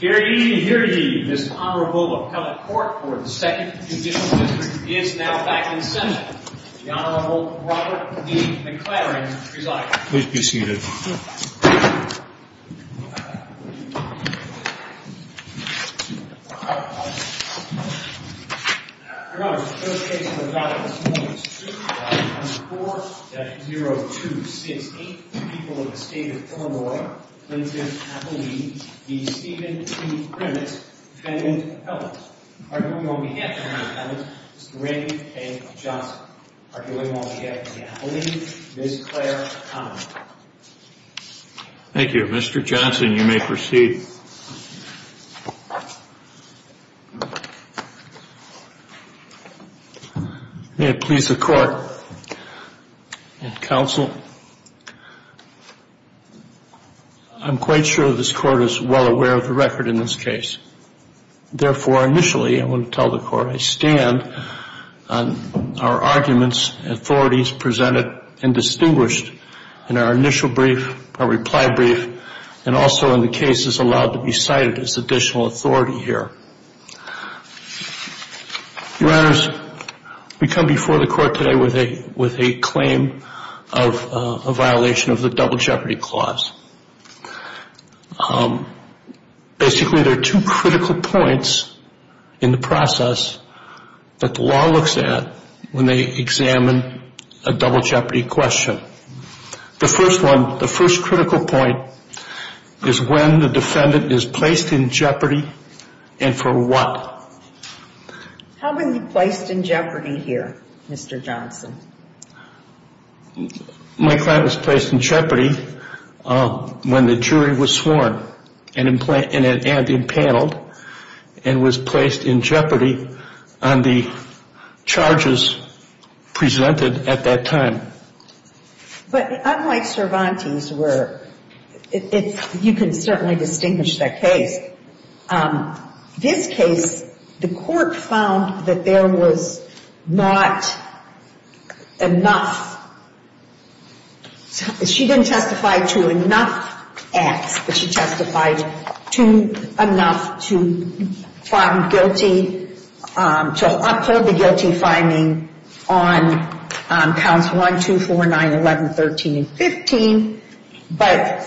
Here ye, here ye. This Honorable Appellate Court for the 2nd Judicial District is now back in session. The Honorable Robert D. McLaren presides. Please be seated. Your Honor, the first case we've got this morning is 2-4-0-2-6. Eight people of the State of Illinois, Clinton Appellee, v. Stephen T. Grimmitt, defendant of Helms. Arguing on behalf of the defendants, Mr. Randy A. Johnson. Arguing on behalf of the Appellees, Ms. Claire Connelly. Thank you. Mr. Johnson, you may proceed. May it please the Court and Counsel. I'm quite sure this Court is well aware of the record in this case. Therefore, initially I want to tell the Court I stand on our arguments, authorities presented and distinguished in our initial brief, our reply brief, and also in the cases allowed to be cited as additional authority here. Your Honors, we come before the Court today with a claim of a violation of the Double Jeopardy Clause. Basically, there are two critical points in the process that the law looks at when they examine a double jeopardy question. The first one, the first critical point is when the defendant is placed in jeopardy and for what. How were you placed in jeopardy here, Mr. Johnson? My client was placed in jeopardy when the jury was sworn and impaneled and was placed in jeopardy on the charges presented at that time. But unlike Cervantes, where you can certainly distinguish that case, this case the Court found that there was not enough. She didn't testify to enough acts, but she testified to enough to find guilty, to uphold the guilty finding on counts 1, 2, 4, 9, 11, 13, and 15, but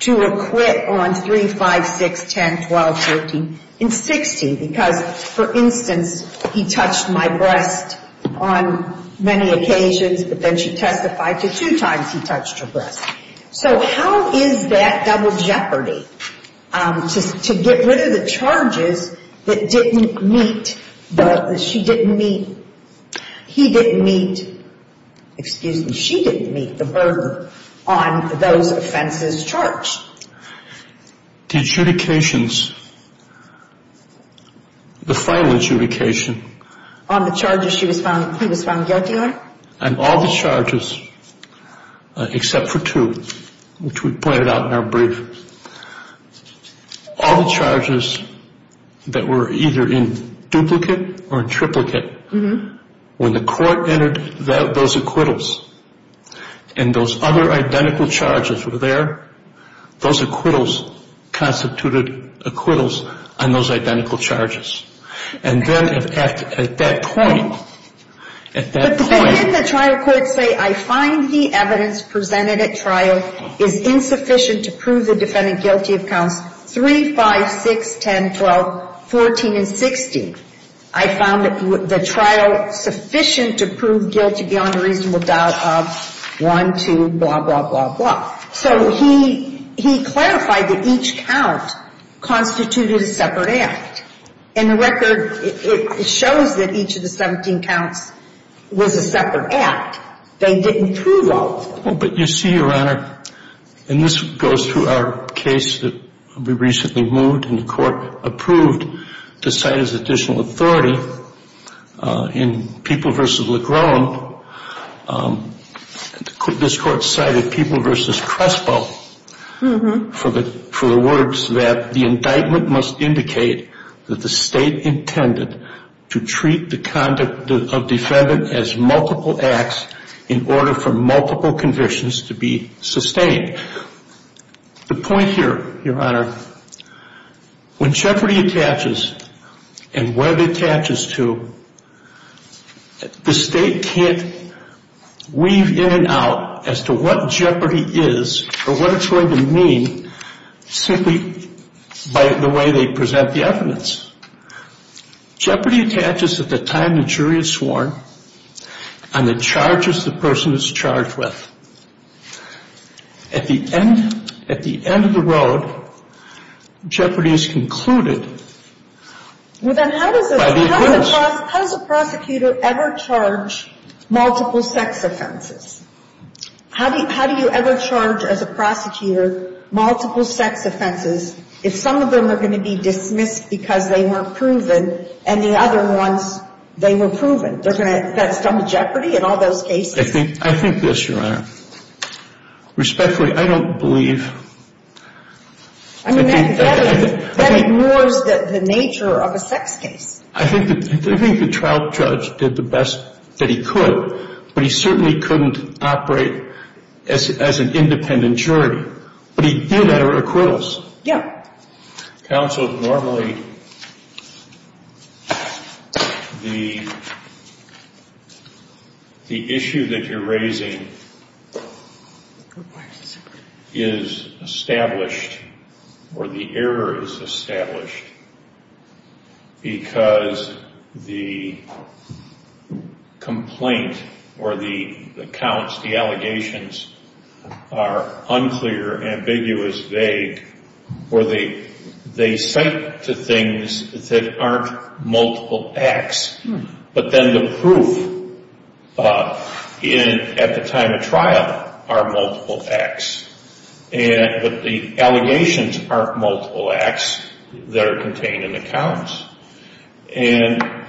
to acquit on 3, 5, 6, 10, 12, 13, and 16. Because, for instance, he touched my breast on many occasions, but then she testified to two times he touched her breast. So how is that double jeopardy to get rid of the charges that didn't meet the, that she didn't meet, he didn't meet, excuse me, she didn't meet the burden on those offenses charged? The adjudications, the final adjudication. On the charges she was found, he was found guilty on? And all the charges, except for two, which we pointed out in our brief, all the charges that were either in duplicate or in triplicate, when the Court entered those acquittals, and those other identical charges were there, those acquittals constituted acquittals on those identical charges. And then at that point, at that point. But didn't the trial court say, I find the evidence presented at trial is insufficient to prove the defendant guilty of counts 3, 5, 6, 10, 12, 14, and 16? I found the trial sufficient to prove guilty beyond a reasonable doubt of 1, 2, blah, blah, blah, blah. So he clarified that each count constituted a separate act. And the record shows that each of the 17 counts was a separate act. They didn't prove all of them. But you see, Your Honor, and this goes to our case that we recently moved and the Court approved to cite as additional authority in People v. Legrone. This Court cited People v. Crespo for the words that the indictment must indicate that the State intended to treat the conduct of defendant as multiple acts in order for multiple convictions to be sustained. The point here, Your Honor, when jeopardy attaches and where it attaches to, the State can't weave in and out as to what jeopardy is or what it's going to mean simply by the way they present the evidence. Jeopardy attaches at the time the jury is sworn on the charges the person is charged with. At the end of the road, jeopardy is concluded by the evidence. Well, then how does a prosecutor ever charge multiple sex offenses? How do you ever charge, as a prosecutor, multiple sex offenses if some of them are going to be dismissed because they weren't proven and the other ones, they were proven? That's done with jeopardy in all those cases? I think this, Your Honor. Respectfully, I don't believe. I mean, that ignores the nature of a sex case. I think the trial judge did the best that he could, but he certainly couldn't operate as an independent jury. But he did at her acquittals. Yeah. Counsel, normally the issue that you're raising is established or the error is established because the complaint or the counts, the allegations are unclear, ambiguous, vague, or they cite to things that aren't multiple acts, but then the proof at the time of trial are multiple acts. But the allegations aren't multiple acts that are contained in the counts. And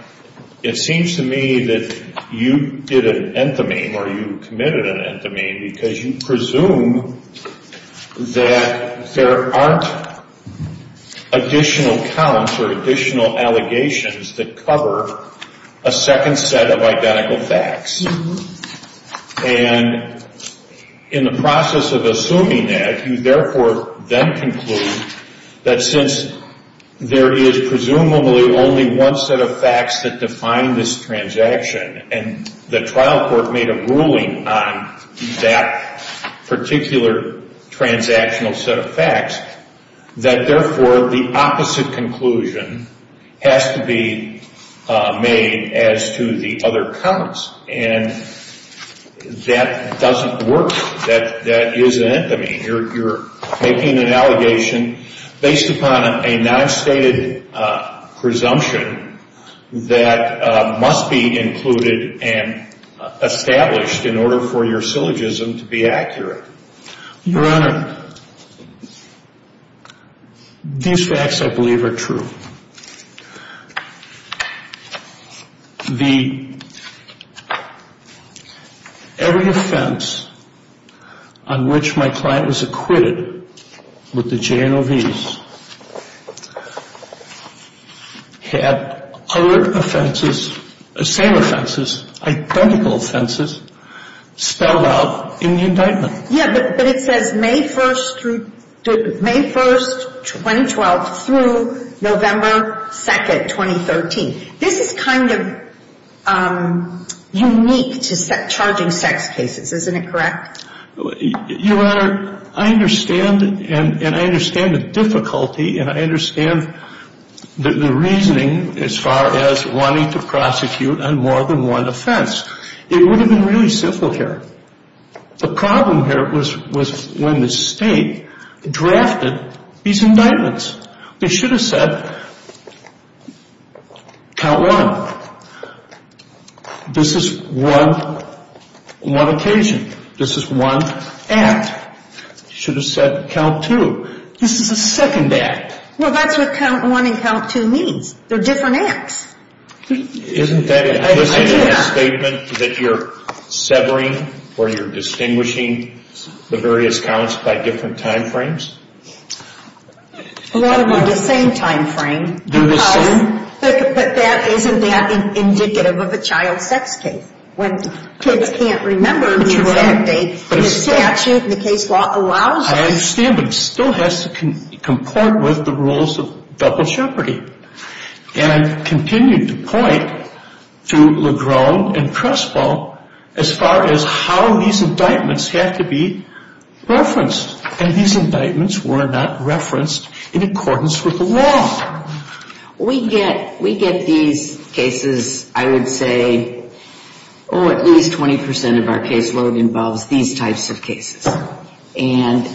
it seems to me that you did an enthamine or you committed an enthamine because you presume that there aren't additional counts or additional allegations that cover a second set of identical facts. And in the process of assuming that, you therefore then conclude that since there is presumably only one set of facts that define this transaction and the trial court made a ruling on that particular transactional set of facts, that therefore the opposite conclusion has to be made as to the other counts. And that doesn't work. That is an enthamine. You're making an allegation based upon a non-stated presumption that must be included and established in order for your syllogism to be accurate. Your Honor, these facts, I believe, are true. Every offense on which my client was acquitted with the JNOVs had other offenses, same offenses, identical offenses spelled out in the indictment. Yeah, but it says May 1, 2012, through November 2, 2013. This is kind of unique to charging sex cases. Isn't it correct? Your Honor, I understand, and I understand the difficulty, and I understand the reasoning as far as wanting to prosecute on more than one offense. It would have been really simple here. The problem here was when the state drafted these indictments. They should have said count one. This is one occasion. This is one act. They should have said count two. This is a second act. Well, that's what count one and count two means. They're different acts. Isn't that implicit in the statement that you're severing or you're distinguishing the various counts by different time frames? A lot of them are the same time frame. They're the same? But that isn't that indicative of a child sex case. When kids can't remember the exact date, the statute and the case law allows it. I understand, but it still has to comport with the rules of double jeopardy. And I continue to point to Legron and Crespo as far as how these indictments have to be referenced. And these indictments were not referenced in accordance with the law. We get these cases, I would say, oh, at least 20% of our case load involves these types of cases. And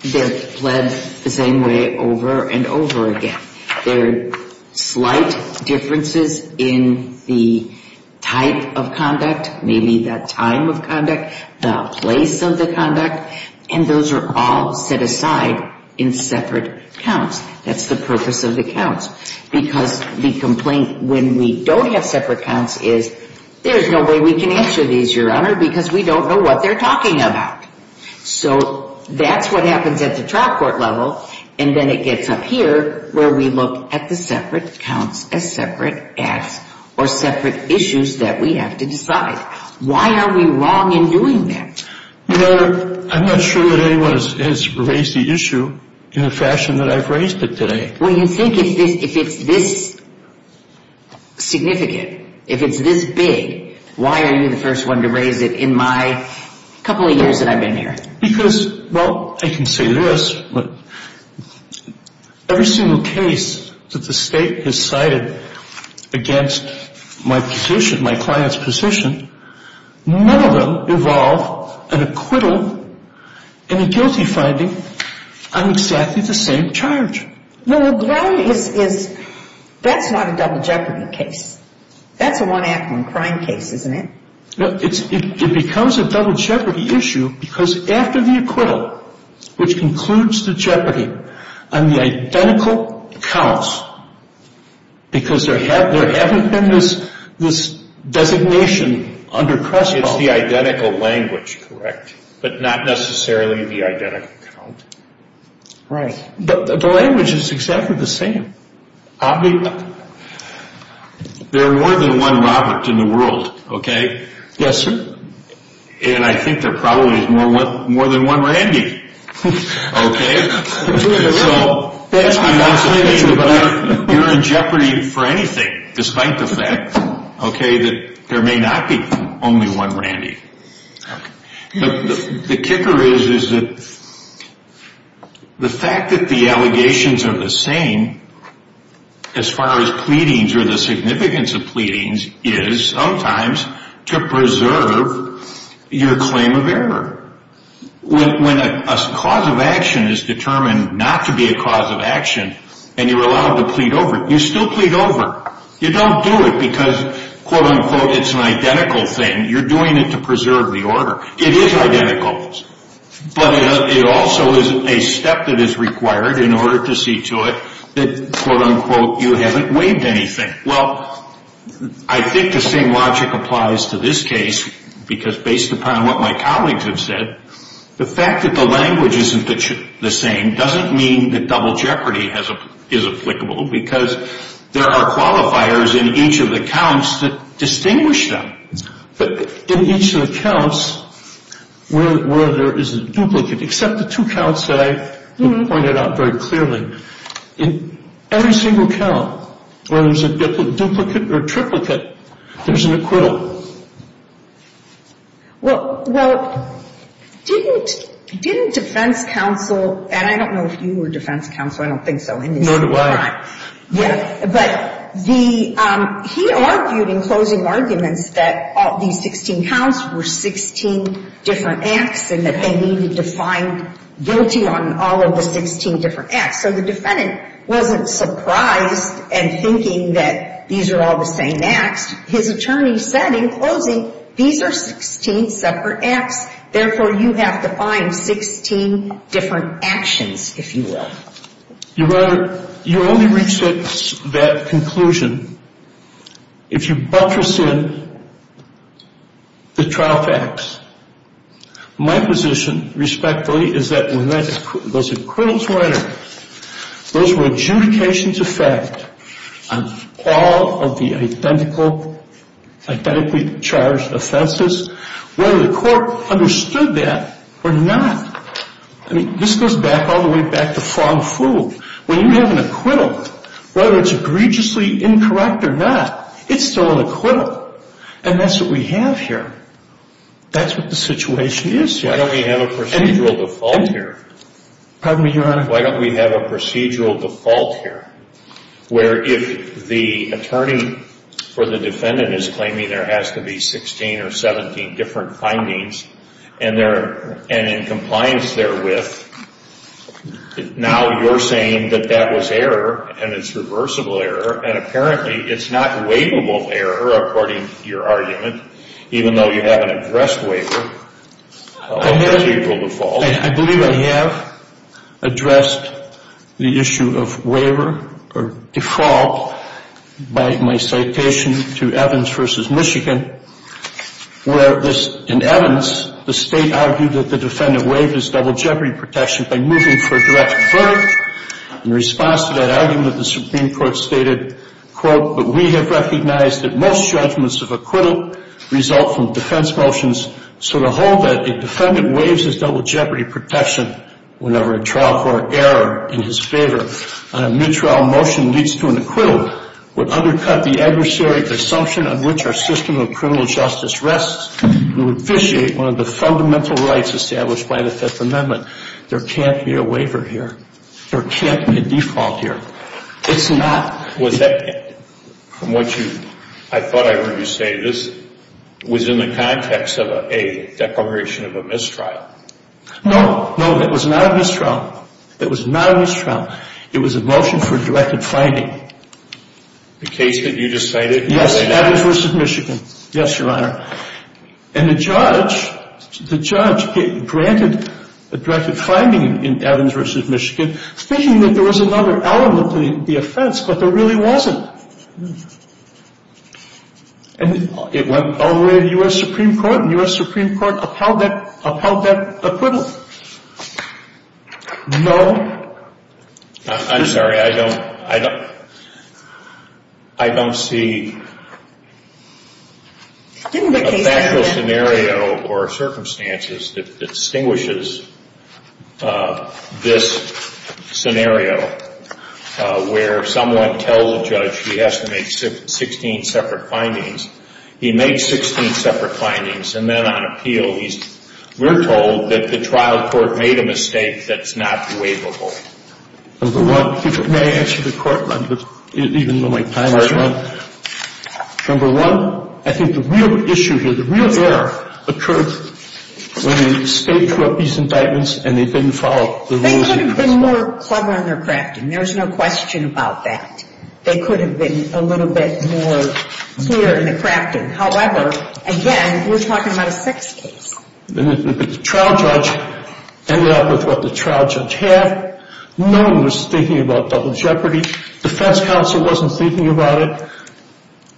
they're led the same way over and over again. There are slight differences in the type of conduct, maybe the time of conduct, the place of the conduct. And those are all set aside in separate counts. That's the purpose of the counts. Because the complaint when we don't have separate counts is there's no way we can answer these, Your Honor, because we don't know what they're talking about. So that's what happens at the trial court level. And then it gets up here where we look at the separate counts as separate acts or separate issues that we have to decide. Why are we wrong in doing that? Your Honor, I'm not sure that anyone has raised the issue in the fashion that I've raised it today. Well, you think if it's this significant, if it's this big, why are you the first one to raise it in my couple of years that I've been here? Because, well, I can say this, but every single case that the State has cited against my position, my client's position, none of them involve an acquittal and a guilty finding on exactly the same charge. Well, what's wrong is that's not a double jeopardy case. That's a one-act-one-crime case, isn't it? It becomes a double jeopardy issue because after the acquittal, which concludes the jeopardy on the identical counts, because there haven't been this designation under Crespo. It's the identical language, correct, but not necessarily the identical count. Right. The language is exactly the same. There are more than one Robert in the world, okay? Yes, sir. And I think there probably is more than one Randy, okay? So, that's why I'm saying that you're in jeopardy for anything, despite the fact, okay, that there may not be only one Randy. The kicker is that the fact that the allegations are the same as far as pleadings or the significance of pleadings is, sometimes, to preserve your claim of error. When a cause of action is determined not to be a cause of action and you're allowed to plead over it, you still plead over it. You don't do it because, quote, unquote, it's an identical thing. You're doing it to preserve the order. It is identical, but it also is a step that is required in order to see to it that, quote, unquote, you haven't waived anything. Well, I think the same logic applies to this case because based upon what my colleagues have said, the fact that the language isn't the same doesn't mean that double jeopardy is applicable because there are qualifiers in each of the counts that distinguish them. But in each of the counts where there is a duplicate, except the two counts that I pointed out very clearly, in every single count where there's a duplicate or triplicate, there's an acquittal. Well, didn't defense counsel, and I don't know if you were defense counsel. I don't think so. No, I'm not. Yeah, but he argued in closing arguments that these 16 counts were 16 different acts and that they needed to find guilty on all of the 16 different acts. So the defendant wasn't surprised and thinking that these are all the same acts. His attorney said in closing, these are 16 separate acts. Therefore, you have to find 16 different actions, if you will. Your Honor, you only reach that conclusion if you buttress in the trial facts. My position, respectfully, is that when those acquittals were entered, those were adjudications of fact on all of the identically charged offenses, whether the court understood that or not. I mean, this goes back all the way back to Fong-Fu. When you have an acquittal, whether it's egregiously incorrect or not, it's still an acquittal. And that's what we have here. That's what the situation is here. Why don't we have a procedural default here? Pardon me, Your Honor? Why don't we have a procedural default here where if the attorney or the defendant is claiming there has to be 16 or 17 different findings and in compliance therewith, now you're saying that that was error and it's reversible error and apparently it's not waivable error, according to your argument, even though you haven't addressed waiver or procedural default. I believe I have addressed the issue of waiver or default by my citation to Evans v. Michigan where in Evans the State argued that the defendant waived his double jeopardy protection by moving for direct verdict. In response to that argument, the Supreme Court stated, quote, but we have recognized that most judgments of acquittal result from defense motions, so to hold that the defendant waives his double jeopardy protection whenever a trial court error in his favor on a mid-trial motion leads to an acquittal would undercut the adversarial assumption on which our system of criminal justice rests. We would vitiate one of the fundamental rights established by the Fifth Amendment. There can't be a waiver here. There can't be a default here. It's not. Was that, from what I thought I heard you say, this was in the context of a declaration of a mistrial? No, no, that was not a mistrial. That was not a mistrial. It was a motion for directed finding. The case that you just cited? Yes, Evans v. Michigan. Yes, Your Honor. And the judge granted a directed finding in Evans v. Michigan thinking that there was another element to the offense, but there really wasn't. And it went all the way to U.S. Supreme Court, and U.S. Supreme Court upheld that, upheld that acquittal. No. I'm sorry, I don't see a factual scenario or circumstances that distinguishes this scenario where someone tells a judge he has to make 16 separate findings. He makes 16 separate findings, and then on appeal, we're told that the trial court made a mistake that's not waivable. Number one, may I answer the court, even though my time is up? Sure. Number one, I think the real issue here, the real error, occurred when they staked these indictments and they didn't follow the rules. They could have been more clever in their crafting. There's no question about that. They could have been a little bit more clear in the crafting. However, again, we're talking about a sex case. The trial judge ended up with what the trial judge had. No one was thinking about double jeopardy. Defense counsel wasn't thinking about it.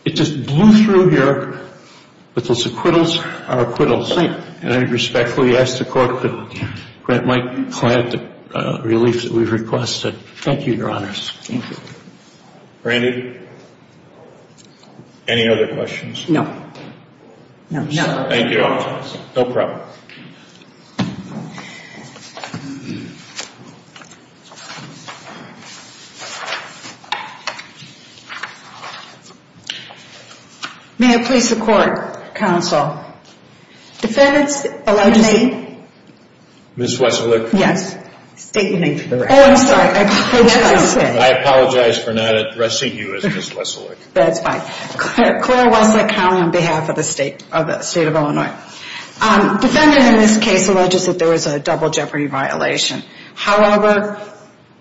It just blew through here with those acquittals, our acquittals. And I respectfully ask the court to grant my client the relief that we've requested. Thank you, Your Honors. Thank you. Randy, any other questions? No. No. Thank you. No problem. May I please support counsel? Defendant's alleged name? Ms. Wesolick. Yes. State your name for the record. Oh, I'm sorry. I apologize for not addressing you as Ms. Wesolick. That's fine. Clara Wesolick, County, on behalf of the State of Illinois. Defendant in this case alleges that there was a double jeopardy violation. However,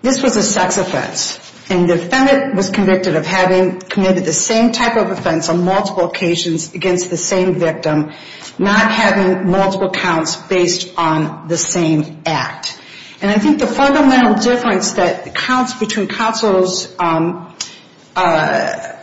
this was a sex offense, and the defendant was convicted of having committed the same type of offense on multiple occasions against the same victim, not having multiple counts based on the same act. And I think the fundamental difference that counts between counsel's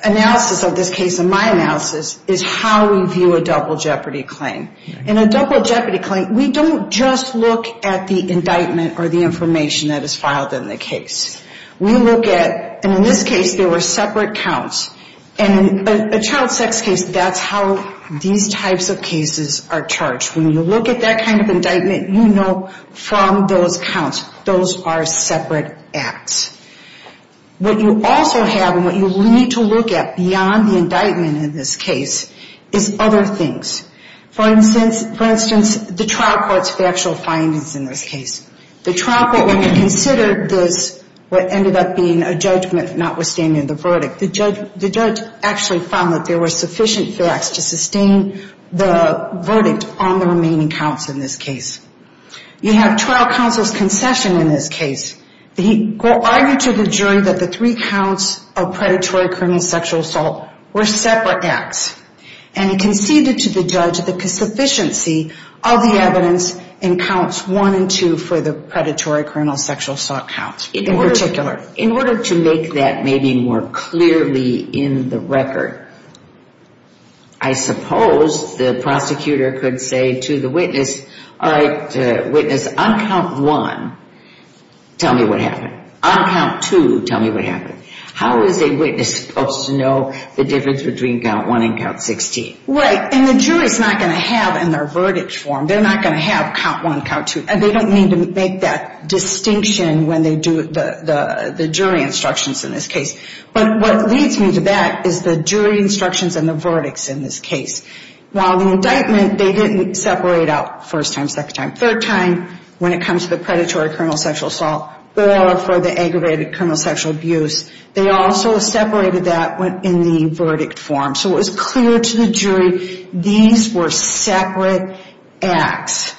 analysis of this case and my analysis is how we view a double jeopardy claim. In a double jeopardy claim, we don't just look at the indictment or the information that is filed in the case. We look at, and in this case, there were separate counts. And in a child sex case, that's how these types of cases are charged. When you look at that kind of indictment, you know from those counts, those are separate acts. What you also have and what you need to look at beyond the indictment in this case is other things. For instance, the trial court's factual findings in this case. The trial court, when they considered this, what ended up being a judgment notwithstanding the verdict, the judge actually found that there were sufficient facts to sustain the verdict on the remaining counts in this case. You have trial counsel's concession in this case. He argued to the jury that the three counts of predatory criminal sexual assault were separate acts. And he conceded to the judge the sufficiency of the evidence in counts one and two for the predatory criminal sexual assault counts in particular. In order to make that maybe more clearly in the record, I suppose the prosecutor could say to the witness, all right, witness, on count one, tell me what happened. On count two, tell me what happened. How is a witness supposed to know the difference between count one and count 16? Right, and the jury's not going to have in their verdict form, they're not going to have count one, count two. They don't need to make that distinction when they do the jury instructions in this case. But what leads me to that is the jury instructions and the verdicts in this case. While the indictment, they didn't separate out first time, second time, third time when it comes to the predatory criminal sexual assault or for the aggravated criminal sexual abuse, they also separated that in the verdict form. So it was clear to the jury these were separate acts.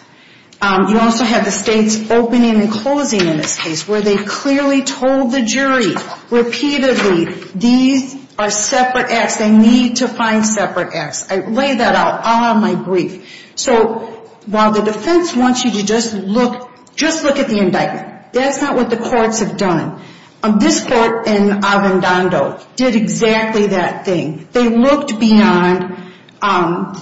You also have the state's opening and closing in this case where they clearly told the jury repeatedly these are separate acts. They need to find separate acts. I lay that out all on my brief. So while the defense wants you to just look, just look at the indictment, that's not what the courts have done. This court in Avendando did exactly that thing. They looked beyond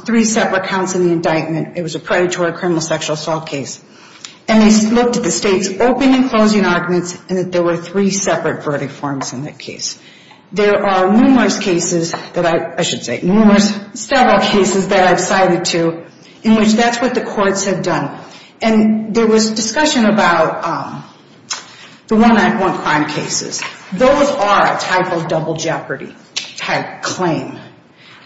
three separate counts in the indictment. It was a predatory criminal sexual assault case. And they looked at the state's opening and closing arguments and that there were three separate verdict forms in that case. There are numerous cases that I should say, numerous, several cases that I've cited to in which that's what the courts have done. And there was discussion about the one act one crime cases. Those are a type of double jeopardy type claim.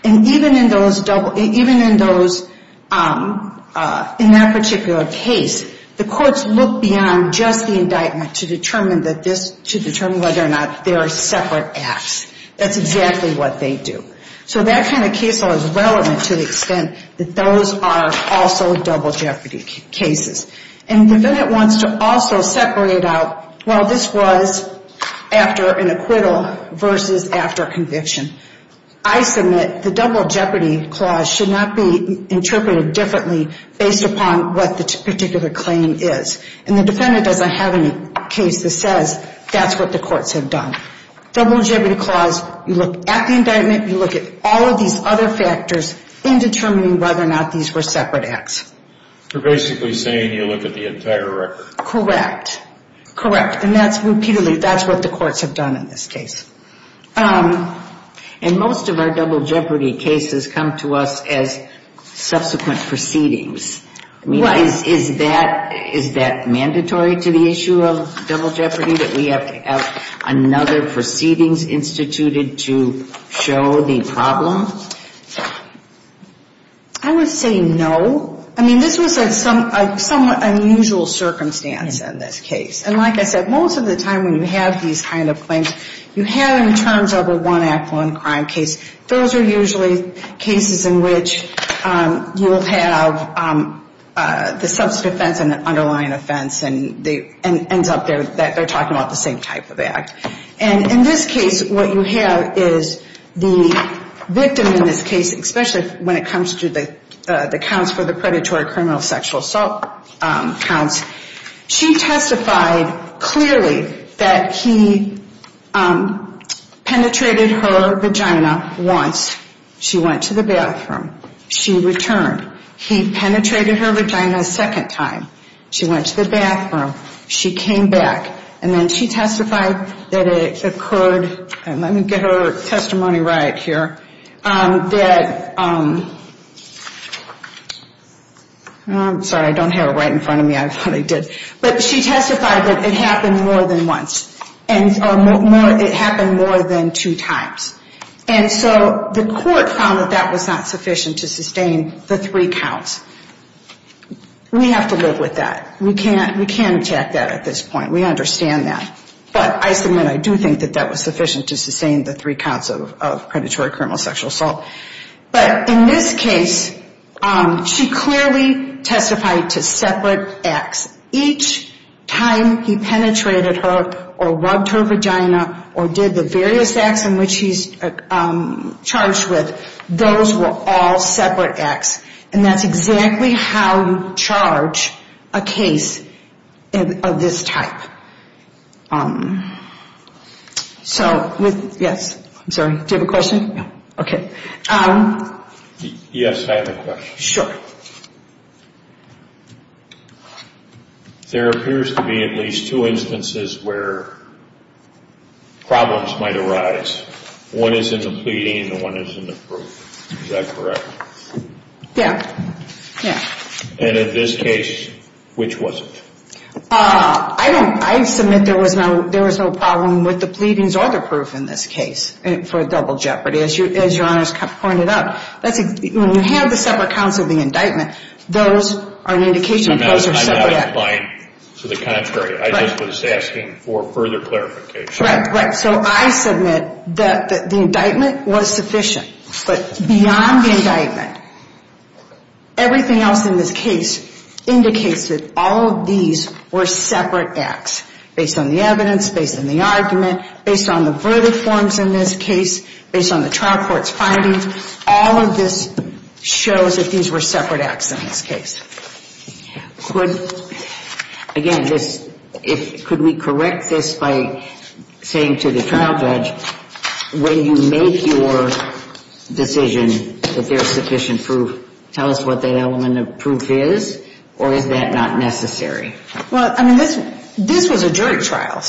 And even in those, even in those, in that particular case, the courts look beyond just the indictment to determine that this, to determine whether or not they are separate acts. That's exactly what they do. So that kind of case law is relevant to the extent that those are also double jeopardy cases. And the verdict wants to also separate out, well, this was after an acquittal versus after conviction. I submit the double jeopardy clause should not be interpreted differently based upon what the particular claim is. And the defendant doesn't have any case that says that's what the courts have done. Double jeopardy clause, you look at the indictment, you look at all of these other factors in determining whether or not these were separate acts. You're basically saying you look at the entire record. Correct. Correct. And that's repeatedly, that's what the courts have done in this case. And most of our double jeopardy cases come to us as subsequent proceedings. I mean, is that mandatory to the issue of double jeopardy, that we have to have another proceedings instituted to show the problem? I would say no. I mean, this was a somewhat unusual circumstance in this case. And like I said, most of the time when you have these kind of claims, you have them in terms of a one act, one crime case. Those are usually cases in which you will have the substance offense and the underlying offense and they end up, they're talking about the same type of act. And in this case, what you have is the victim in this case, especially when it comes to the counts for the predatory criminal sexual assault counts, she testified clearly that he penetrated her vagina once. She went to the bathroom. She returned. He penetrated her vagina a second time. She went to the bathroom. She came back. And then she testified that it occurred, and let me get her testimony right here, that, I'm sorry, I don't have it right in front of me. I thought I did. But she testified that it happened more than once. And it happened more than two times. And so the court found that that was not sufficient to sustain the three counts. We have to live with that. We can't attack that at this point. We understand that. But I submit I do think that that was sufficient to sustain the three counts of predatory criminal sexual assault. But in this case, she clearly testified to separate acts. Each time he penetrated her or rubbed her vagina or did the various acts in which he's charged with, those were all separate acts. And that's exactly how you charge a case of this type. So, yes. I'm sorry. Do you have a question? No. Okay. Yes, I have a question. Sure. There appears to be at least two instances where problems might arise. One is in the pleading and one is in the proof. Is that correct? Yeah. Yeah. And in this case, which was it? I submit there was no problem with the pleadings or the proof in this case for double jeopardy. As Your Honor has pointed out, when you have the separate counts of the indictment, those are an indication that those are separate acts. I'm not implying to the contrary. I just was asking for further clarification. Right. So I submit that the indictment was sufficient. But beyond the indictment, everything else in this case indicates that all of these were separate acts based on the evidence, based on the argument, based on the verdict forms in this case, based on the trial court's findings. All of this shows that these were separate acts in this case. Again, could we correct this by saying to the trial judge, when you make your decision that there's sufficient proof, tell us what that element of proof is, or is that not necessary? Well, I mean, this was a jury trial.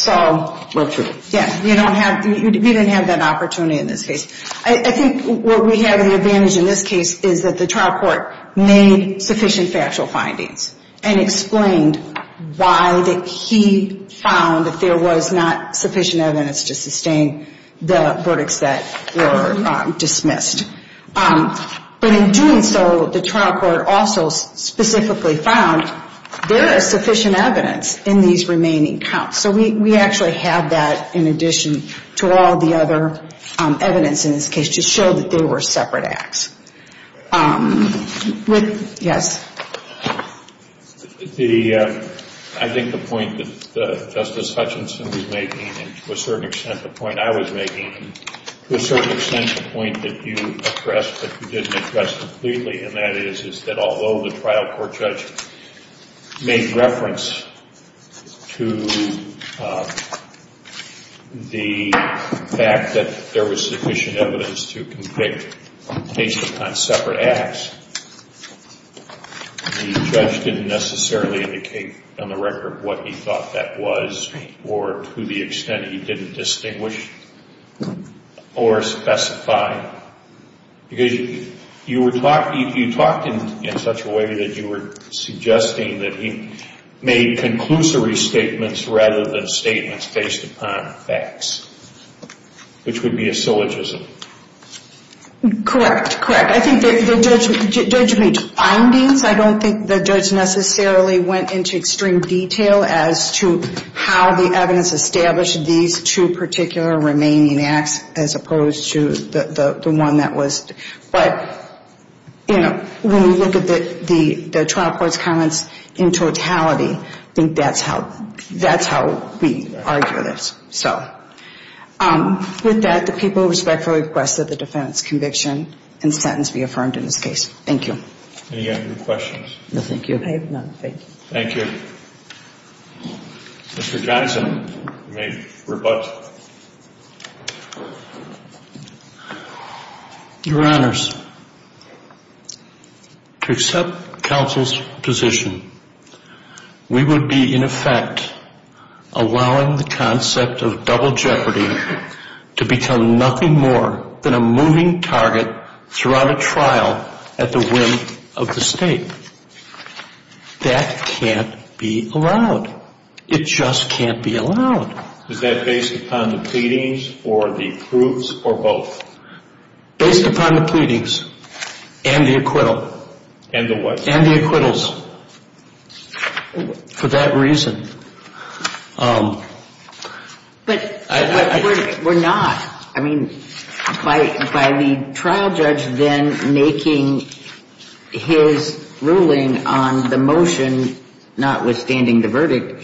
Well, true. Yeah. We didn't have that opportunity in this case. I think what we have as an advantage in this case is that the trial court made sufficient factual findings and explained why he found that there was not sufficient evidence to sustain the verdicts that were dismissed. But in doing so, the trial court also specifically found there is sufficient evidence in these remaining counts. So we actually have that in addition to all the other evidence in this case to show that they were separate acts. Yes? I think the point that Justice Hutchinson was making, and to a certain extent the point I was making, and to a certain extent the point that you addressed but you didn't address completely, and that is that although the trial court judge made reference to the fact that there was sufficient evidence to convict based upon separate acts, the judge didn't necessarily indicate on the record what he thought that was or to the extent he didn't distinguish or specify. Because you talked in such a way that you were suggesting that he made conclusory statements rather than statements based upon facts, which would be a syllogism. Correct, correct. I think the judge made findings. I don't think the judge necessarily went into extreme detail as to how the evidence established these two particular remaining acts as opposed to the one that was, but, you know, when we look at the trial court's comments in totality, I think that's how we argue this. So, with that, the people respectfully request that the defense conviction and sentence be affirmed in this case. Thank you. Any other questions? No, thank you. I have none, thank you. Thank you. Mr. Johnson, you may rebut. Your Honors, to accept counsel's position, we would be in effect allowing the concept of double jeopardy to become nothing more than a moving target throughout a trial at the whim of the State. That can't be allowed. It just can't be allowed. Is that based upon the pleadings or the proofs or both? Based upon the pleadings and the acquittal. And the what? And the acquittals. For that reason. But we're not. I mean, by the trial judge then making his ruling on the motion notwithstanding the verdict,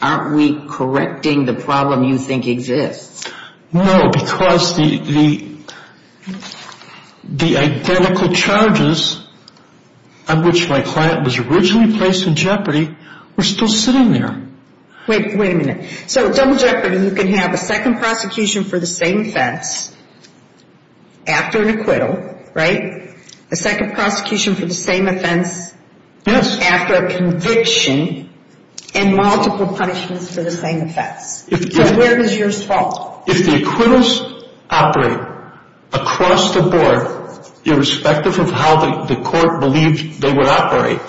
aren't we correcting the problem you think exists? No, because the identical charges on which my client was originally placed in jeopardy were still sitting there. Wait a minute. So double jeopardy, you can have a second prosecution for the same offense after an acquittal, right? A second prosecution for the same offense after a conviction and multiple punishments for the same offense. So where is yours fault? If the acquittals operate across the board, irrespective of how the court believed they would operate,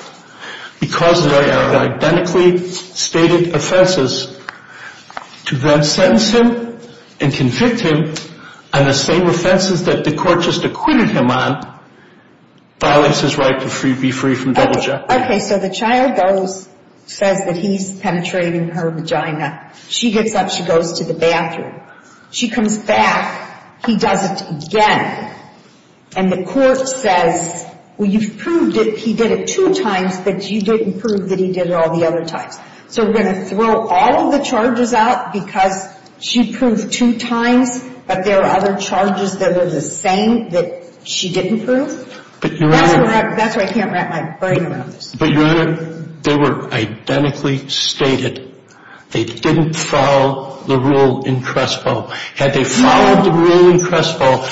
because they are identically stated offenses, to then sentence him and convict him on the same offenses that the court just acquitted him on violates his right to be free from double jeopardy. Okay, so the child goes, says that he's penetrating her vagina. She gets up. She goes to the bathroom. She comes back. He does it again. And the court says, well, you've proved that he did it two times, but you didn't prove that he did it all the other times. So we're going to throw all of the charges out because she proved two times, but there are other charges that are the same that she didn't prove? But, Your Honor. That's why I can't wrap my brain around this. But, Your Honor, they were identically stated. They didn't follow the rule in Crespo. Had they followed the rule in Crespo,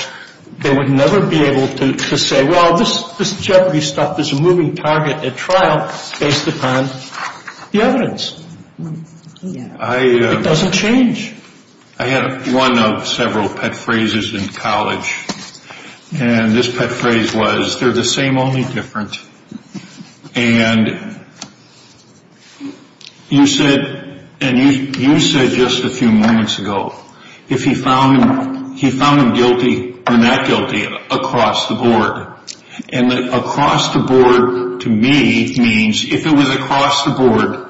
they would never be able to say, well, this jeopardy stuff is a moving target at trial based upon the evidence. It doesn't change. I had one of several pet phrases in college. And this pet phrase was, they're the same, only different. And you said just a few moments ago, if he found him guilty or not guilty across the board. And across the board, to me, means if it was across the board,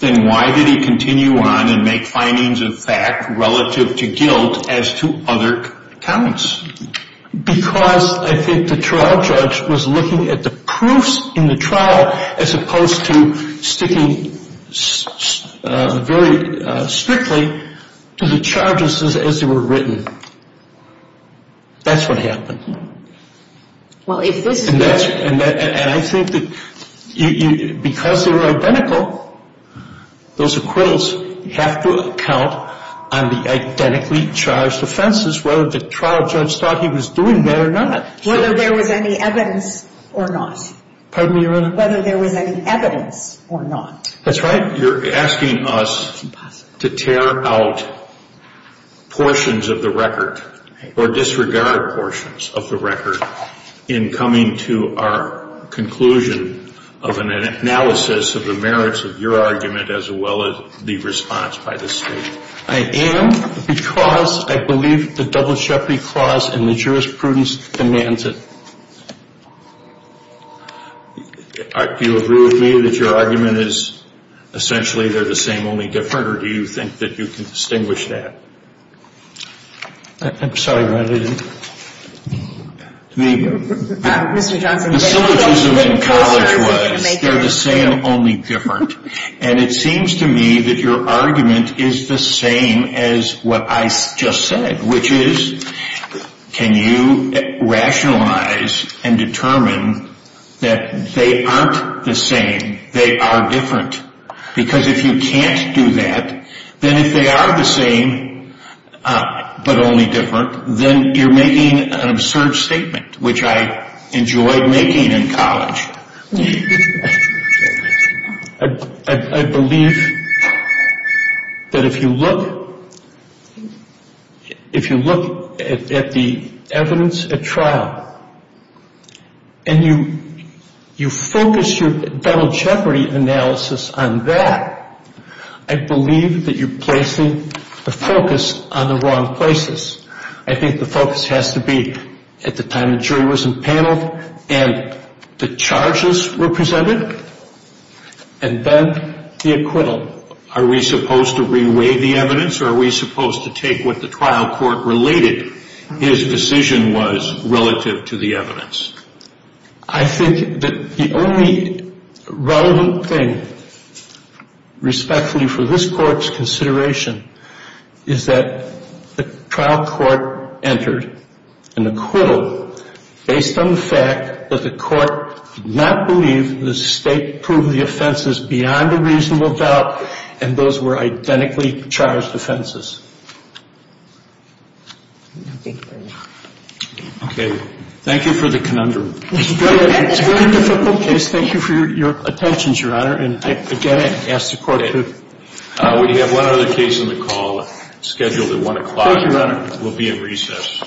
then why did he continue on and make findings of fact relative to guilt as to other counts? Because I think the trial judge was looking at the proofs in the trial as opposed to sticking very strictly to the charges as they were written. That's what happened. And I think that because they were identical, those acquittals have to count on the identically charged offenses, whether the trial judge thought he was doing that or not. Whether there was any evidence or not. Pardon me, Your Honor? Whether there was any evidence or not. That's right. You're asking us to tear out portions of the record or disregard portions of the record in coming to our conclusion of an analysis of the merits of your argument as well as the response by the state. I am because I believe the Double Jeopardy Clause and the jurisprudence demands it. Do you agree with me that your argument is essentially they're the same, only different, or do you think that you can distinguish that? I'm sorry, Your Honor. The syllogism in college was they're the same, only different. And it seems to me that your argument is the same as what I just said, which is can you rationalize and determine that they aren't the same, they are different. Because if you can't do that, then if they are the same but only different, then you're making an absurd statement, which I enjoyed making in college. I believe that if you look at the evidence at trial and you focus your double jeopardy analysis on that, I believe that you're placing the focus on the wrong places. I think the focus has to be at the time the jury was impaneled and the charges were presented and then the acquittal. Are we supposed to re-weigh the evidence or are we supposed to take what the trial court related his decision was relative to the evidence? I think that the only relevant thing respectfully for this Court's consideration is that the trial court entered an acquittal based on the fact that the court did not believe the state proved the offenses beyond a reasonable doubt and those were identically charged offenses. Okay. Thank you for the conundrum. It's a very difficult case. Thank you for your attention, Your Honor. We have one other case on the call scheduled at 1 o'clock. Thank you, Your Honor. We'll be at recess.